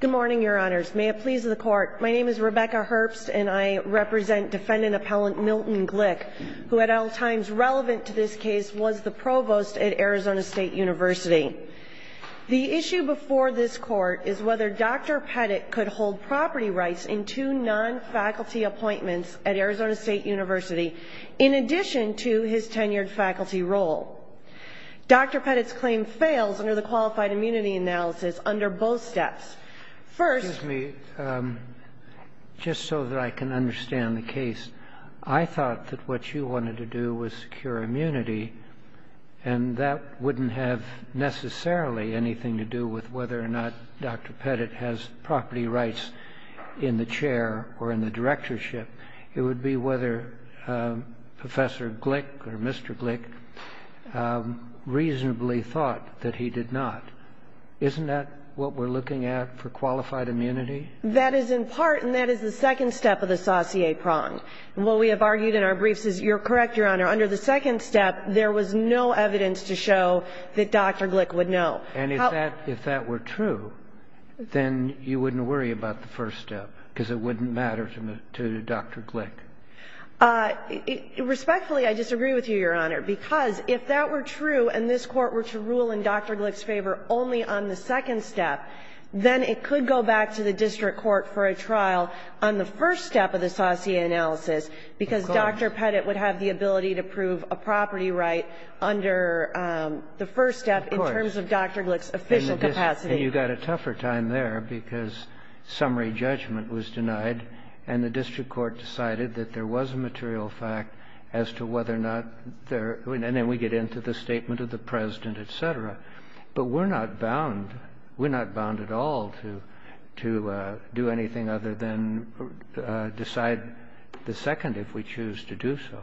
Good morning, your honors. May it please the court, my name is Rebecca Herbst and I represent defendant appellant Milton Glick, who at all times relevant to this case was the provost at Arizona State University. The issue before this court is whether Dr. Pettit could hold property rights in two non-faculty appointments at Arizona State University, in addition to his tenured faculty role. Dr. Pettit's claim fails under the qualified immunity analysis under both steps. First... Excuse me, just so that I can understand the case. I thought that what you wanted to do was secure immunity and that wouldn't have necessarily anything to do with whether or not Dr. Pettit has property rights in the chair or in the directorship. It would be whether Professor Glick or Mr. Glick reasonably thought that he did not. Isn't that what we're looking at for qualified immunity? That is in part, and that is the second step of the saucier prong. And what we have argued in our briefs is, you're correct, your honor, under the second step there was no evidence to show that Dr. Glick would know. And if that were true, then you wouldn't worry about the first step because it wouldn't matter to Dr. Glick. Respectfully, I disagree with you, your honor, because if that were true and this court were to rule in Dr. Glick's favor only on the second step, then it could go back to the district court for a trial on the first step of the saucier analysis because Dr. Pettit would have the ability to prove a property right under the first step in terms of Dr. Glick. And if that were true, then you wouldn't worry about Dr. Glick's official capacity. And you got a tougher time there because summary judgment was denied, and the district court decided that there was a material fact as to whether or not there – and then we get into the statement of the President, et cetera. But we're not bound, we're not bound at all to do anything other than decide the second if we choose to do so.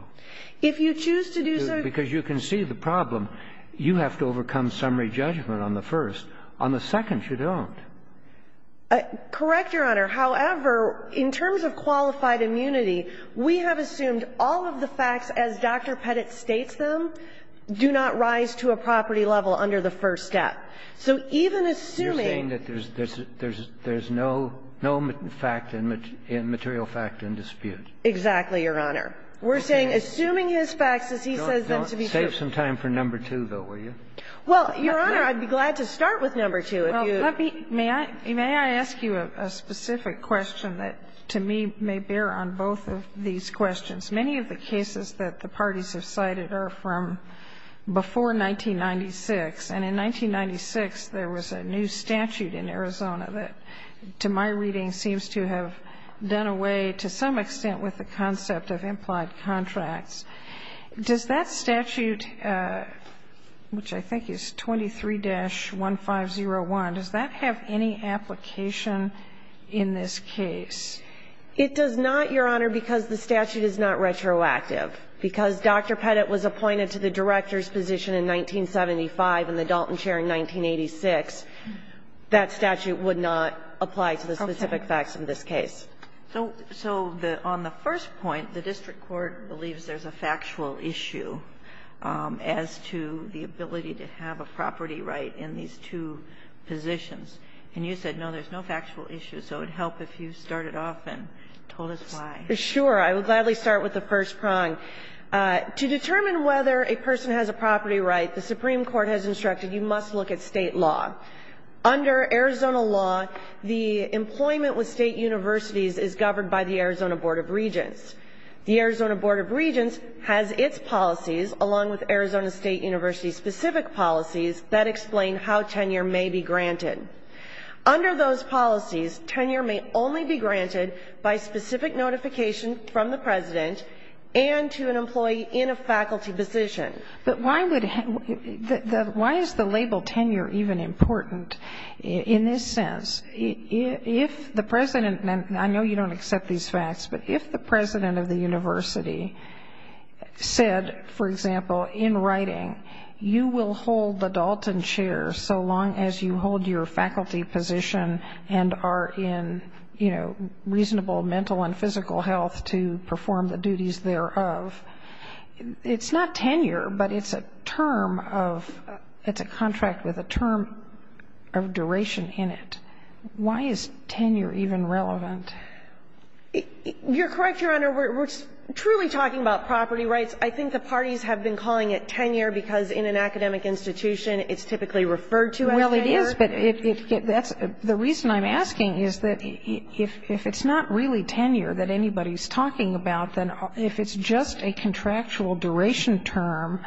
If you choose to do so – Because you can see the problem, you have to overcome summary judgment on the first. On the second, you don't. Correct, your honor. However, in terms of qualified immunity, we have assumed all of the facts as Dr. Pettit states them do not rise to a property level under the first step. So even assuming – You're saying that there's no fact in material fact in dispute. Exactly, your honor. We're saying, assuming his facts as he says them to be true – Don't save some time for number two, though, will you? Well, your honor, I'd be glad to start with number two if you – Well, let me – may I ask you a specific question that to me may bear on both of these questions. Many of the cases that the parties have cited are from before 1996, and in 1996, there was a new statute in Arizona that, to my reading, seems to have done away to some extent with the concept of implied contracts. Does that statute, which I think is 23-1501, does that have any application in this case? It does not, your honor, because the statute is not retroactive. Because Dr. Pettit was appointed to the director's position in 1975 and the Dalton chair in 1986, that statute would not apply to the specific facts in this case. So on the first point, the district court believes there's a factual issue as to the ability to have a property right in these two positions. And you said, no, there's no factual issue. So it would help if you started off and told us why. Sure. I will gladly start with the first prong. To determine whether a person has a property right, the Supreme Court has instructed you must look at State law. Under Arizona law, the employment with State universities is governed by the Arizona Board of Regents. The Arizona Board of Regents has its policies, along with Arizona State University's specific policies, that explain how tenure may be granted. Under those policies, tenure may only be granted by specific notification from the president and to an employee in a faculty position. But why is the label tenure even important in this sense? If the president, and I know you don't accept these facts, but if the president of the university said, for example, in writing, you will hold the Dalton chair so long as you hold your faculty position and are in, you know, reasonable mental and physical health to perform the duties thereof, it's not tenure, but it's a term of, it's a contract with a term of duration in it. Why is tenure even relevant? You're correct, Your Honor. We're truly talking about property rights. I think the parties have been calling it tenure because in an academic institution it's typically referred to as tenure. Yes, but the reason I'm asking is that if it's not really tenure that anybody's talking about, then if it's just a contractual duration term,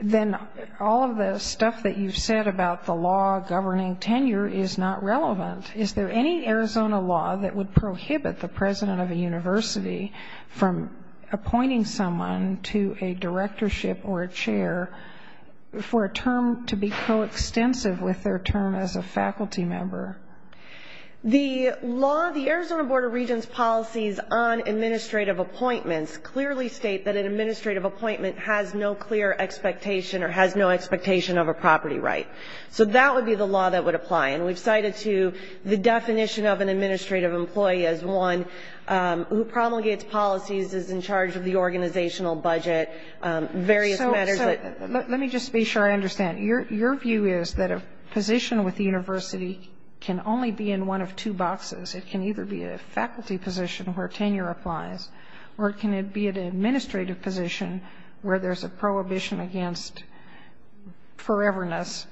then all of the stuff that you've said about the law governing tenure is not relevant. Is there any Arizona law that would prohibit the president of a university from appointing someone to a directorship or a chair for a term to be coextensive with their term as a faculty member? The law, the Arizona Board of Regents policies on administrative appointments clearly state that an administrative appointment has no clear expectation or has no expectation of a property right. So that would be the law that would apply. And we've cited to the definition of an administrative employee as one who promulgates policies, is in charge of the organizational budget, various matters. But let me just be sure I understand. Your view is that a position with the university can only be in one of two boxes. It can either be a faculty position where tenure applies or it can be an administrative position where there's a prohibition against foreverness,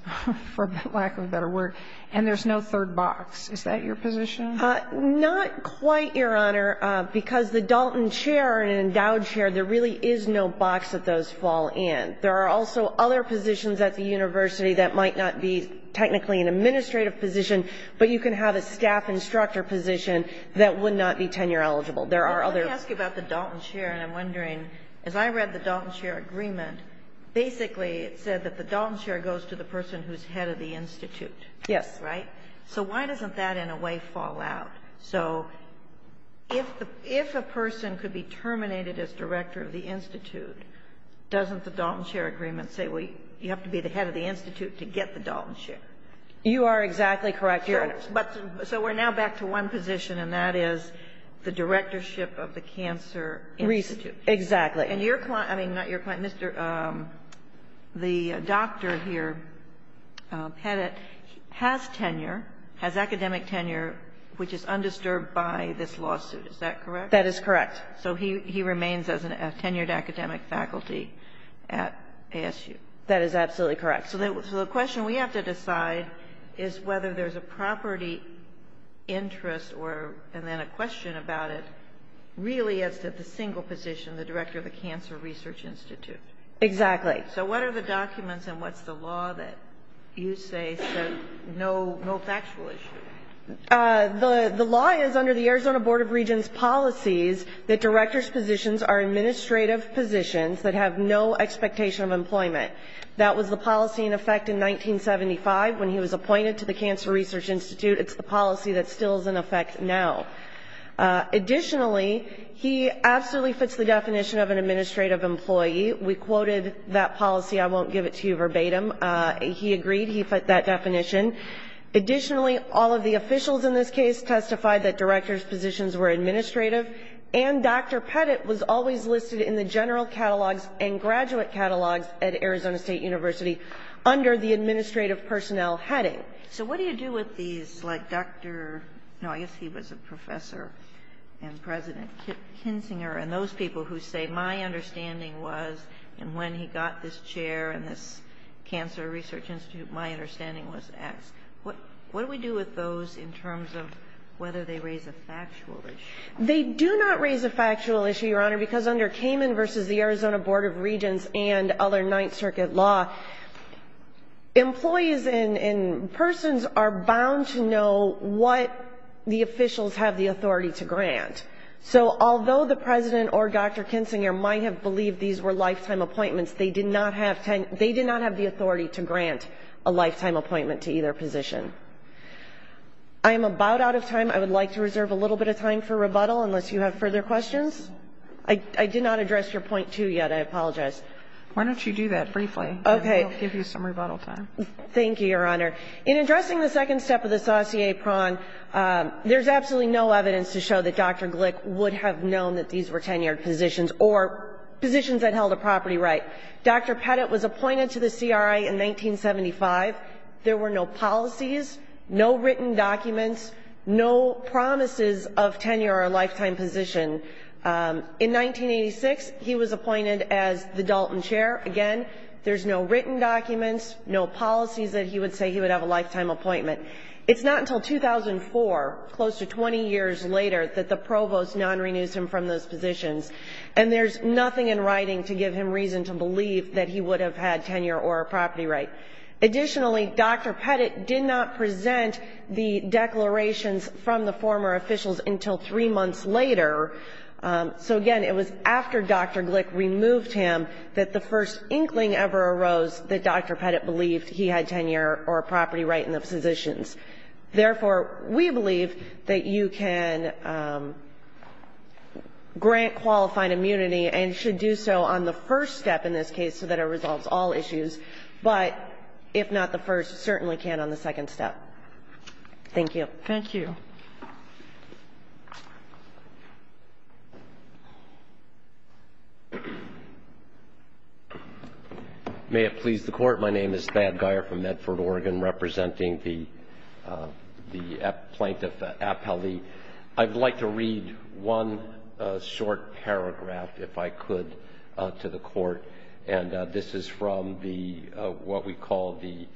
for lack of a better word, and there's no third box. Is that your position? Not quite, Your Honor, because the Dalton chair and endowed chair, there really is no box that those fall in. There are also other positions at the university that might not be technically an administrative position, but you can have a staff instructor position that would not be tenure eligible. There are other ones. But let me ask you about the Dalton chair, and I'm wondering, as I read the Dalton chair agreement, basically it said that the Dalton chair goes to the person who's head of the institute. Yes. Right? So why doesn't that in a way fall out? So if a person could be terminated as director of the institute, doesn't the Dalton chair agreement say you have to be the head of the institute to get the Dalton chair? You are exactly correct, Your Honor. So we're now back to one position, and that is the directorship of the cancer institute. Exactly. And your client, I mean, not your client, Mr. the doctor here, Pettit, has tenure, has academic tenure, which is undisturbed by this lawsuit. Is that correct? That is correct. So he remains as a tenured academic faculty at ASU. That is absolutely correct. So the question we have to decide is whether there's a property interest and then a question about it really is that the single position, the director of the cancer research institute. Exactly. So what are the documents and what's the law that you say is no factual issue? The law is under the Arizona Board of Regents policies that director's positions are administrative positions that have no expectation of employment. That was the policy in effect in 1975 when he was appointed to the cancer research institute. It's the policy that still is in effect now. Additionally, he absolutely fits the definition of an administrative employee. We quoted that policy. I won't give it to you verbatim. He agreed. He fit that definition. Additionally, all of the officials in this case testified that director's positions were administrative. And Dr. Pettit was always listed in the general catalogs and graduate catalogs at Arizona State University under the administrative personnel heading. So what do you do with these, like Dr. No, I guess he was a professor and President Kinzinger and those people who say, my understanding was, and when he got this chair in this cancer research institute, my understanding was X. What do we do with those in terms of whether they raise a factual issue? They do not raise a factual issue, Your Honor, because under Kamin versus the Arizona Board of Regents and other Ninth Circuit law, employees and persons are bound to know what the officials have the authority to grant. So although the President or Dr. Kinzinger might have believed these were lifetime appointments, they did not have the authority to grant a lifetime appointment to either position. I am about out of time. I would like to reserve a little bit of time for rebuttal unless you have further questions. I did not address your point 2 yet. I apologize. Why don't you do that briefly. Okay. And we'll give you some rebuttal time. Thank you, Your Honor. In addressing the second step of the sauté pron, there's absolutely no evidence to show that Dr. Glick would have known that these were tenured positions or positions that held a property right. Dr. Pettit was appointed to the CRA in 1975. There were no policies, no written documents, no promises of tenure or a lifetime position. In 1986, he was appointed as the Dalton Chair. Again, there's no written documents, no policies that he would say he would have a lifetime appointment. It's not until 2004, close to 20 years later, that the Provost non-renews him from those positions. And there's nothing in writing to give him reason to believe that he would have had tenure or a property right. Additionally, Dr. Pettit did not present the declarations from the former officials until three months later. So, again, it was after Dr. Glick removed him that the first inkling ever arose that Dr. Pettit believed he had tenure or a property right in the positions. Therefore, we believe that you can grant qualifying immunity and should do so on the first step in this case so that it resolves all issues. But if not the first, certainly can on the second step. Thank you. Thank you. May it please the Court. My name is Thad Geyer from Medford, Oregon, representing the plaintiff, Appellee. I'd like to read one short paragraph, if I could, to the Court. And this is from the what we call the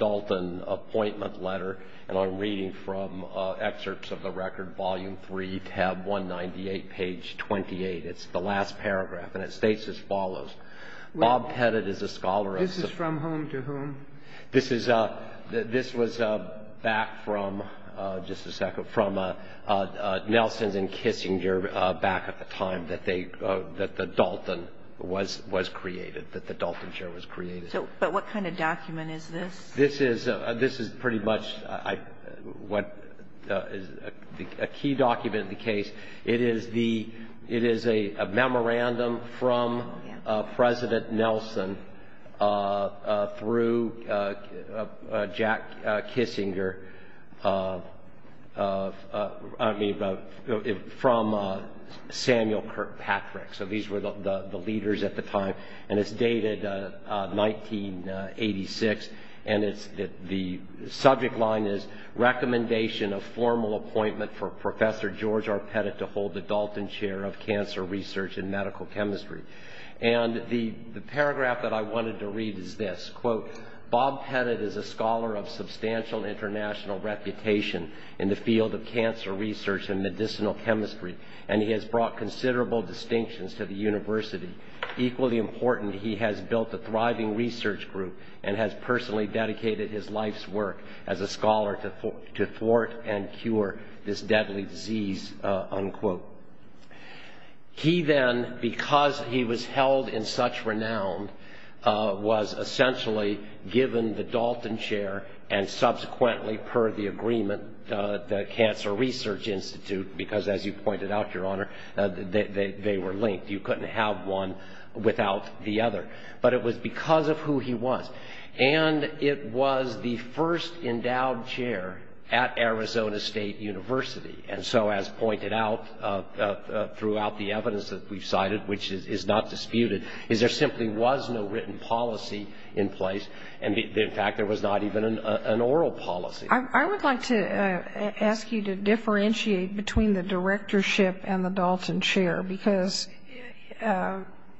Dalton appointment letter. And I'm reading from excerpts of the record, volume 3, tab 198, page 28. It's the last paragraph. And it states as follows. Bob Pettit is a scholar of the. This is from whom to whom? This was back from, just a second, from Nelsons and Kissinger back at the time that the Dalton was created, that the Dalton chair was created. But what kind of document is this? It is a memorandum from President Nelson through Jack Kissinger from Samuel Kirkpatrick. So these were the leaders at the time. And it's dated 1986. And the subject line is recommendation of formal appointment for Professor George R. Pettit to hold the Dalton chair of cancer research and medical chemistry. And the paragraph that I wanted to read is this. Quote, Bob Pettit is a scholar of substantial international reputation in the field of cancer research and medicinal chemistry, and he has brought considerable distinctions to the university. Equally important, he has built a thriving research group and has personally dedicated his life's work as a scholar to thwart and cure this deadly disease, unquote. He then, because he was held in such renown, was essentially given the Dalton chair and subsequently, per the agreement, the Cancer Research Institute, because as you pointed out, Your Honor, they were linked. You couldn't have one without the other. But it was because of who he was. And it was the first endowed chair at Arizona State University. And so as pointed out throughout the evidence that we've cited, which is not disputed, is there simply was no written policy in place. In fact, there was not even an oral policy. I would like to ask you to differentiate between the directorship and the Dalton chair, because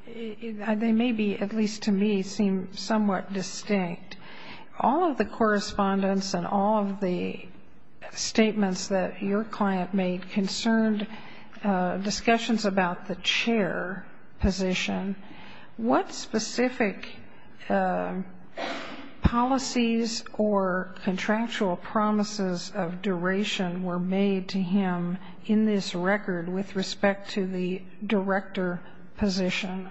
they may be, at least to me, seem somewhat distinct. All of the correspondence and all of the statements that your client made concerned discussions about the chair position. What specific policies or contractual promises of duration were made to him in this record with respect to the director position?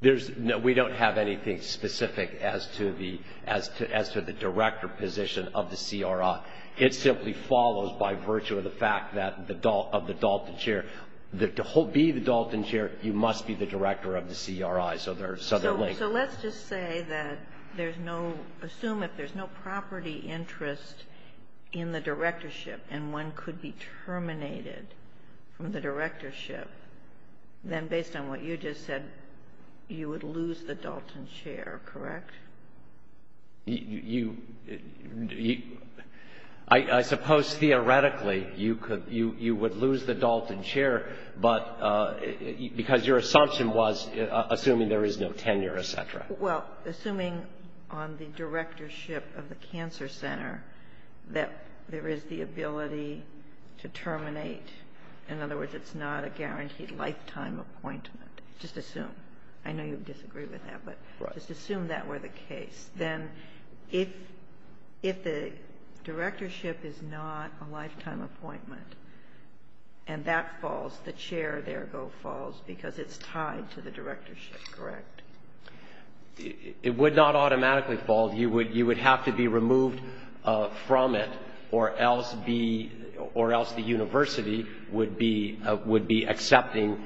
We don't have anything specific as to the director position of the CRI. It simply follows by virtue of the fact of the Dalton chair. To be the Dalton chair, you must be the director of the CRI, so they're linked. So let's just say that there's no, assume if there's no property interest in the directorship and one could be terminated from the directorship, then based on what you just said, you would lose the Dalton chair, correct? You, I suppose theoretically you could, you would lose the Dalton chair, but because your assumption was assuming there is no tenure, et cetera. Well, assuming on the directorship of the cancer center that there is the ability to terminate. In other words, it's not a guaranteed lifetime appointment. Just assume. I know you disagree with that. Right. Just assume that were the case. Then if the directorship is not a lifetime appointment and that falls, the chair there go falls because it's tied to the directorship, correct? It would not automatically fall. You would have to be removed from it or else be, or else the university would be accepting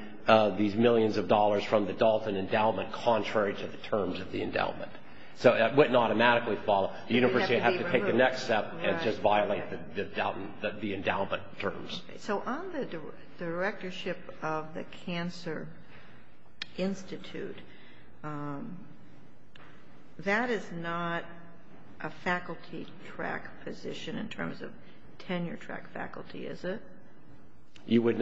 these millions of dollars from the Dalton endowment contrary to the terms of the endowment. So it wouldn't automatically fall. The university would have to take the next step and just violate the endowment terms. So on the directorship of the cancer institute, that is not a faculty track position in terms of tenure track faculty, is it? You would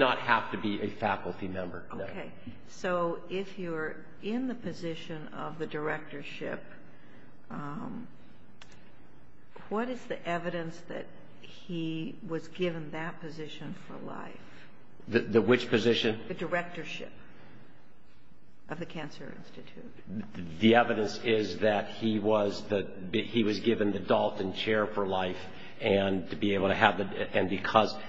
not have to be a faculty member. Okay. So if you're in the position of the directorship, what is the evidence that he was given that position for life? Which position? The directorship of the cancer institute. The evidence is that he was given the Dalton chair for life and to be able to have the,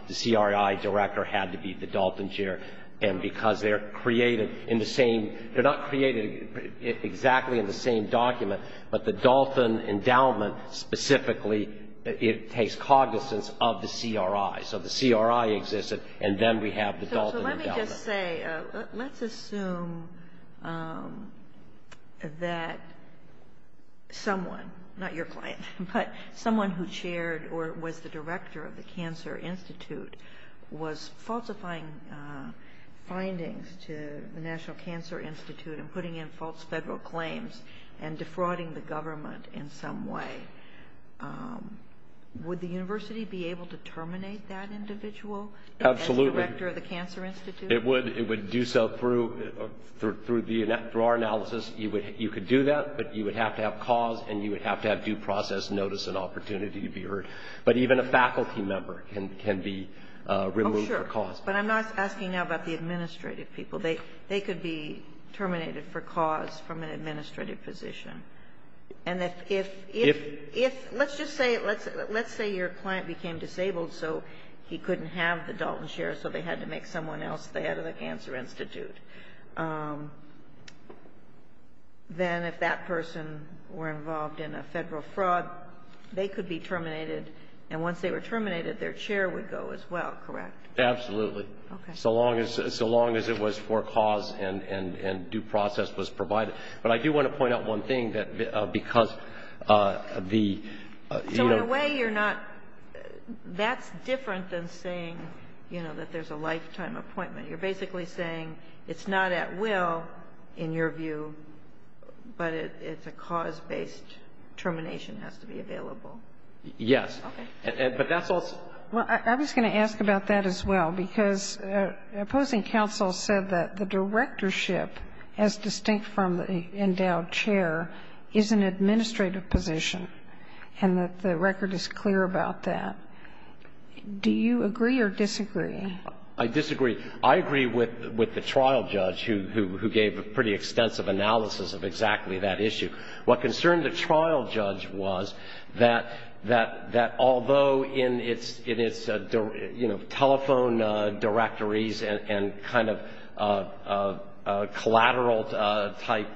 the CRI director had to be the Dalton chair. And because they're created in the same, they're not created exactly in the same document, but the Dalton endowment specifically, it takes cognizance of the CRI. So the CRI existed and then we have the Dalton endowment. So let me just say, let's assume that someone, not your client, but someone who chaired or was the director of the cancer institute was falsifying findings to the National Cancer Institute and putting in false federal claims and defrauding the government in some way. Would the university be able to terminate that individual? Absolutely. As director of the cancer institute? It would. It would do so through our analysis. You could do that, but you would have to have cause and you would have to have due process notice and opportunity to be heard. But even a faculty member can be removed for cause. Oh, sure. But I'm not asking now about the administrative people. They could be terminated for cause from an administrative position. And if, let's just say your client became disabled so he couldn't have the Dalton chair so they had to make someone else the head of the cancer institute, then if that person were involved in a federal fraud, they could be terminated. And once they were terminated, their chair would go as well, correct? Absolutely. Okay. So long as it was for cause and due process was provided. But I do want to point out one thing, that because the, you know. In a way you're not, that's different than saying, you know, that there's a lifetime appointment. You're basically saying it's not at will, in your view, but it's a cause-based termination has to be available. Yes. Okay. But that's also. Well, I was going to ask about that as well, because opposing counsel said that the directorship, as distinct from the endowed chair, is an administrative position and that the record is clear about that. Do you agree or disagree? I disagree. I agree with the trial judge who gave a pretty extensive analysis of exactly that issue. What concerned the trial judge was that although in its, you know, telephone directories and kind of collateral-type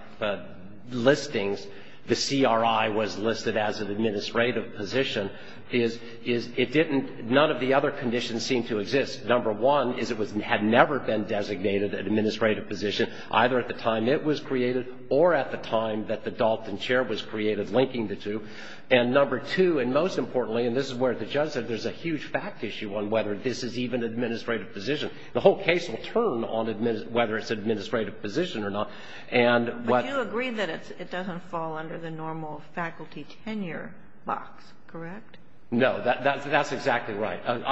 listings, the CRI was listed as an administrative position, is it didn't, none of the other conditions seem to exist. Number one is it had never been designated an administrative position, either at the time it was created or at the time that the Dalton chair was created linking the two. And number two, and most importantly, and this is where the judge said there's a huge fact issue on whether this is even an administrative position. The whole case will turn on whether it's an administrative position or not. But you agree that it doesn't fall under the normal faculty tenure box, correct? No. That's exactly right. That's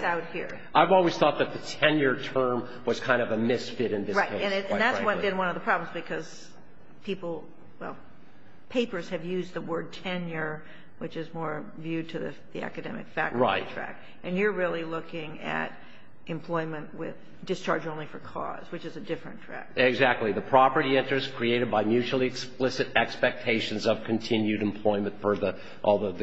out here. I've always thought that the tenure term was kind of a misfit in this case, quite frankly. Right. And that's been one of the problems because people, well, papers have used the word tenure, which is more viewed to the academic faculty track. Right. And you're really looking at employment with discharge only for cause, which is a different track. Exactly. The property enters created by mutually explicit expectations of continued employment for the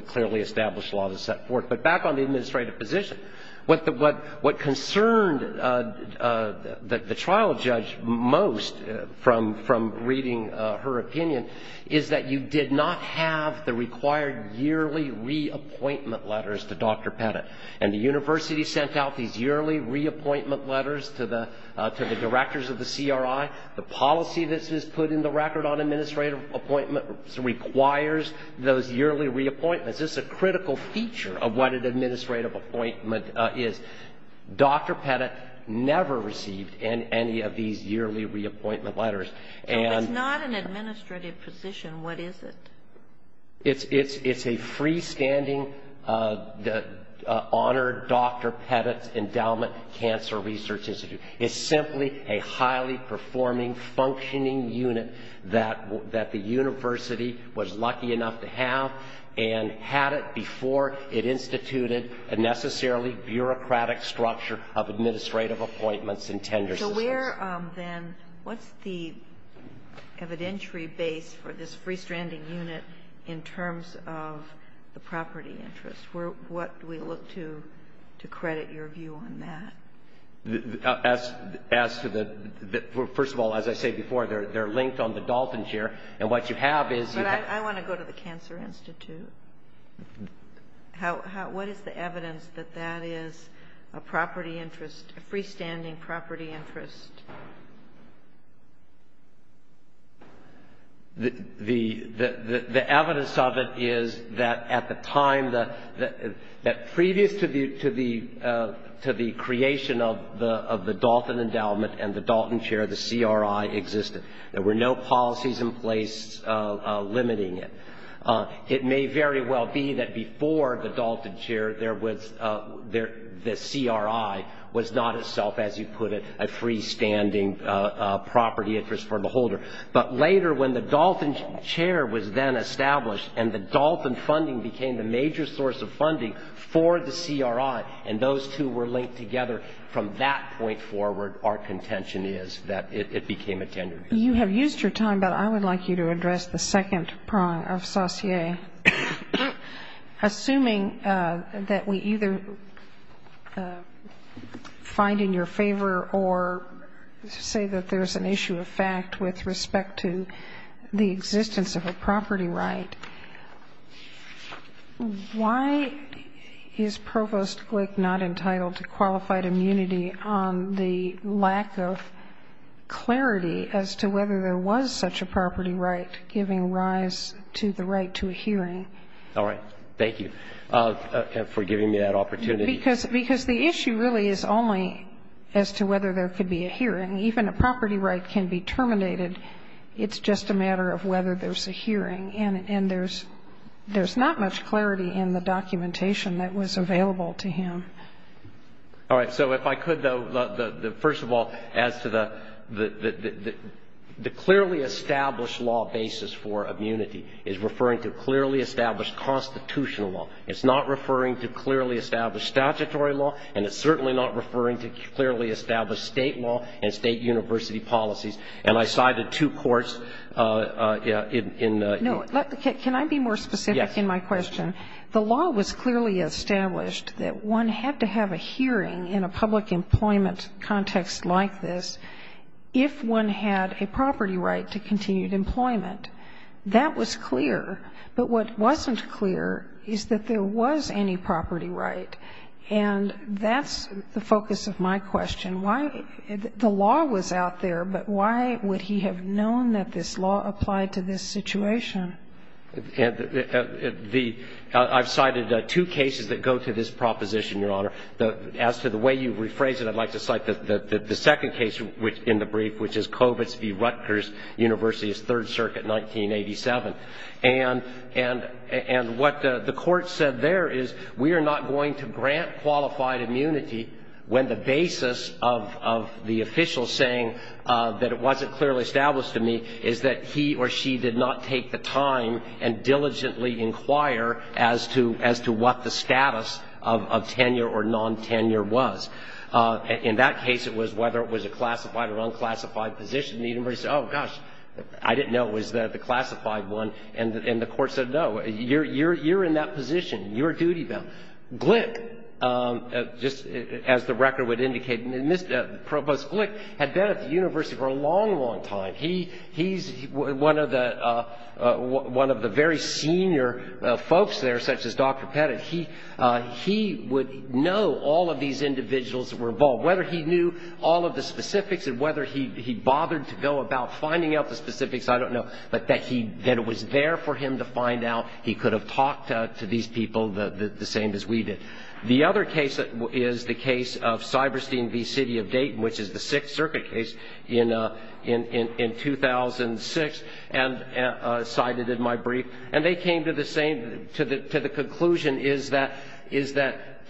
clearly established law that's set forth. But back on the administrative position, what concerned the trial judge most from reading her opinion is that you did not have the required yearly reappointment letters to Dr. Pettit. And the university sent out these yearly reappointment letters to the directors of the CRI. The policy that's put in the record on administrative appointment requires those yearly reappointments. It's a critical feature of what an administrative appointment is. Dr. Pettit never received any of these yearly reappointment letters. If it's not an administrative position, what is it? It's a freestanding, honored Dr. Pettit Endowment Cancer Research Institute. It's simply a highly performing, functioning unit that the university was lucky enough to have and had it before it instituted a necessarily bureaucratic structure of administrative appointments and tenure systems. So where, then, what's the evidentiary base for this freestanding unit in terms of the property interest? What do we look to to credit your view on that? First of all, as I said before, they're linked on the dolphin chair. But I want to go to the Cancer Institute. What is the evidence that that is a property interest, a freestanding property interest? The evidence of it is that at the time that previous to the creation of the dolphin endowment and the dolphin chair, the CRI existed. There were no policies in place limiting it. It may very well be that before the dolphin chair, the CRI was not itself, as you put it, a freestanding property interest for the holder. But later, when the dolphin chair was then established and the dolphin funding became the major source of funding for the CRI and those two were linked together, from that point forward, our contention is that it became a tenure base. You have used your time, but I would like you to address the second prong of Saussure. Assuming that we either find in your favor or say that there's an issue of fact with respect to the existence of a property right, why is Provost Glick not entitled to qualified immunity on the lack of clarity as to whether there was such a property right giving rise to the right to a hearing? All right. Thank you for giving me that opportunity. Because the issue really is only as to whether there could be a hearing. Even a property right can be terminated. It's just a matter of whether there's a hearing. And there's not much clarity in the documentation that was available to him. All right. So if I could, though, first of all, as to the clearly established law basis for immunity is referring to clearly established constitutional law. It's not referring to clearly established statutory law, and it's certainly not referring to clearly established state law and state university policies. And I cited two courts in the ---- No. Can I be more specific in my question? Yes. The law was clearly established that one had to have a hearing in a public employment context like this if one had a property right to continued employment. That was clear. But what wasn't clear is that there was any property right. And that's the focus of my question. The law was out there, but why would he have known that this law applied to this situation? I've cited two cases that go to this proposition, Your Honor. As to the way you've rephrased it, I'd like to cite the second case in the brief, which is Kovitz v. Rutgers University's Third Circuit, 1987. And what the court said there is, we are not going to grant qualified immunity when the basis of the official saying that it wasn't clearly established to me is that he or she did not take the time and diligently inquire as to what the status of tenure or non-tenure was. In that case, it was whether it was a classified or unclassified position. Oh, gosh, I didn't know it was the classified one. And the court said, no, you're in that position. You're duty bound. Glick, just as the record would indicate, and Provost Glick had been at the university for a long, long time. He's one of the very senior folks there, such as Dr. Pettit. He would know all of these individuals that were involved, whether he knew all of the specifics and whether he bothered to go about finding out the specifics, I don't know, but that it was there for him to find out. He could have talked to these people the same as we did. The other case is the case of Cyberstein v. City of Dayton, which is the Sixth Circuit case in 2006, and cited in my brief. And they came to the same conclusion, is that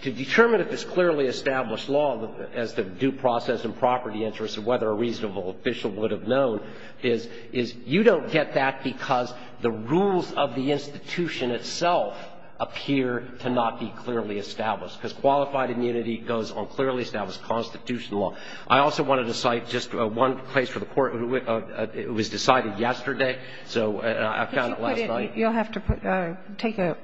to determine if it's clearly established law as to due process and property interests and whether a reasonable official would have known is you don't get that because the rules of the institution itself appear to not be clearly established, because qualified immunity goes on clearly established constitutional law. I also wanted to cite just one case for the Court. It was decided yesterday, so I found it last night. You'll have to take a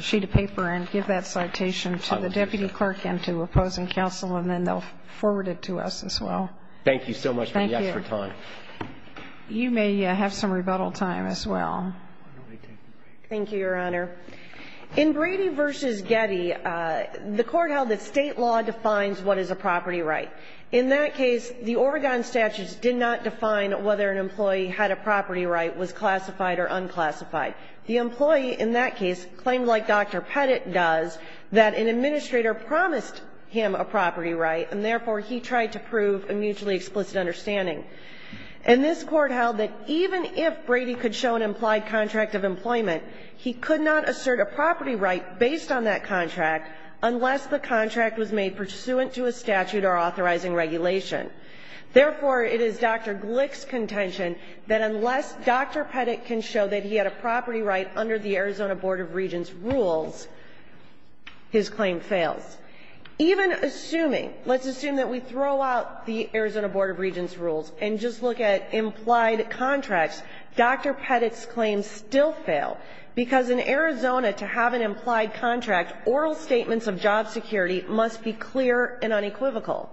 sheet of paper and give that citation to the deputy clerk and to opposing counsel, and then they'll forward it to us as well. Thank you so much for your time. Thank you. You may have some rebuttal time as well. Thank you, Your Honor. In Brady v. Getty, the Court held that state law defines what is a property right. In that case, the Oregon statutes did not define whether an employee had a property right, whether it was classified or unclassified. The employee in that case claimed, like Dr. Pettit does, that an administrator promised him a property right, and therefore he tried to prove a mutually explicit understanding. And this Court held that even if Brady could show an implied contract of employment, he could not assert a property right based on that contract unless the contract was made pursuant to a statute or authorizing regulation. Therefore, it is Dr. Glick's contention that unless Dr. Pettit can show that he had a property right under the Arizona Board of Regents' rules, his claim fails. Even assuming, let's assume that we throw out the Arizona Board of Regents' rules and just look at implied contracts, Dr. Pettit's claims still fail, because in Arizona, to have an implied contract, oral statements of job security must be clear and unequivocal.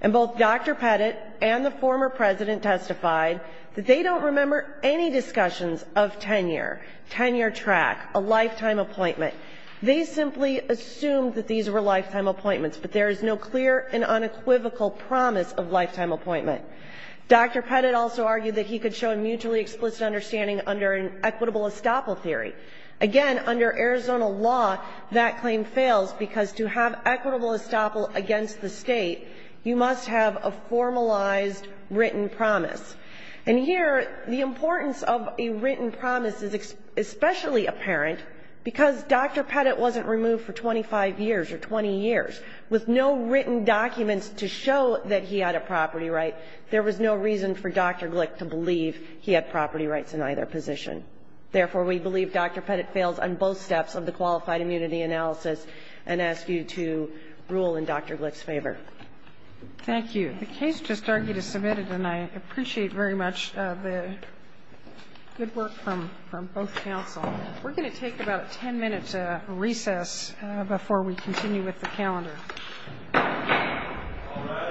And both Dr. Pettit and the former President testified that they don't remember any discussions of tenure, tenure track, a lifetime appointment. They simply assumed that these were lifetime appointments, but there is no clear and unequivocal promise of lifetime appointment. Dr. Pettit also argued that he could show a mutually explicit understanding under an equitable estoppel theory. Again, under Arizona law, that claim fails because to have equitable estoppel against the State, you must have a formalized written promise. And here, the importance of a written promise is especially apparent because Dr. Pettit wasn't removed for 25 years or 20 years. With no written documents to show that he had a property right, there was no reason for Dr. Glick to believe he had property rights in either position. Therefore, we believe Dr. Pettit fails on both steps of the qualified immunity analysis and ask you to rule in Dr. Glick's favor. Thank you. The case just argued is submitted, and I appreciate very much the good work from both counsel. We're going to take about ten minutes of recess before we continue with the calendar. All rise.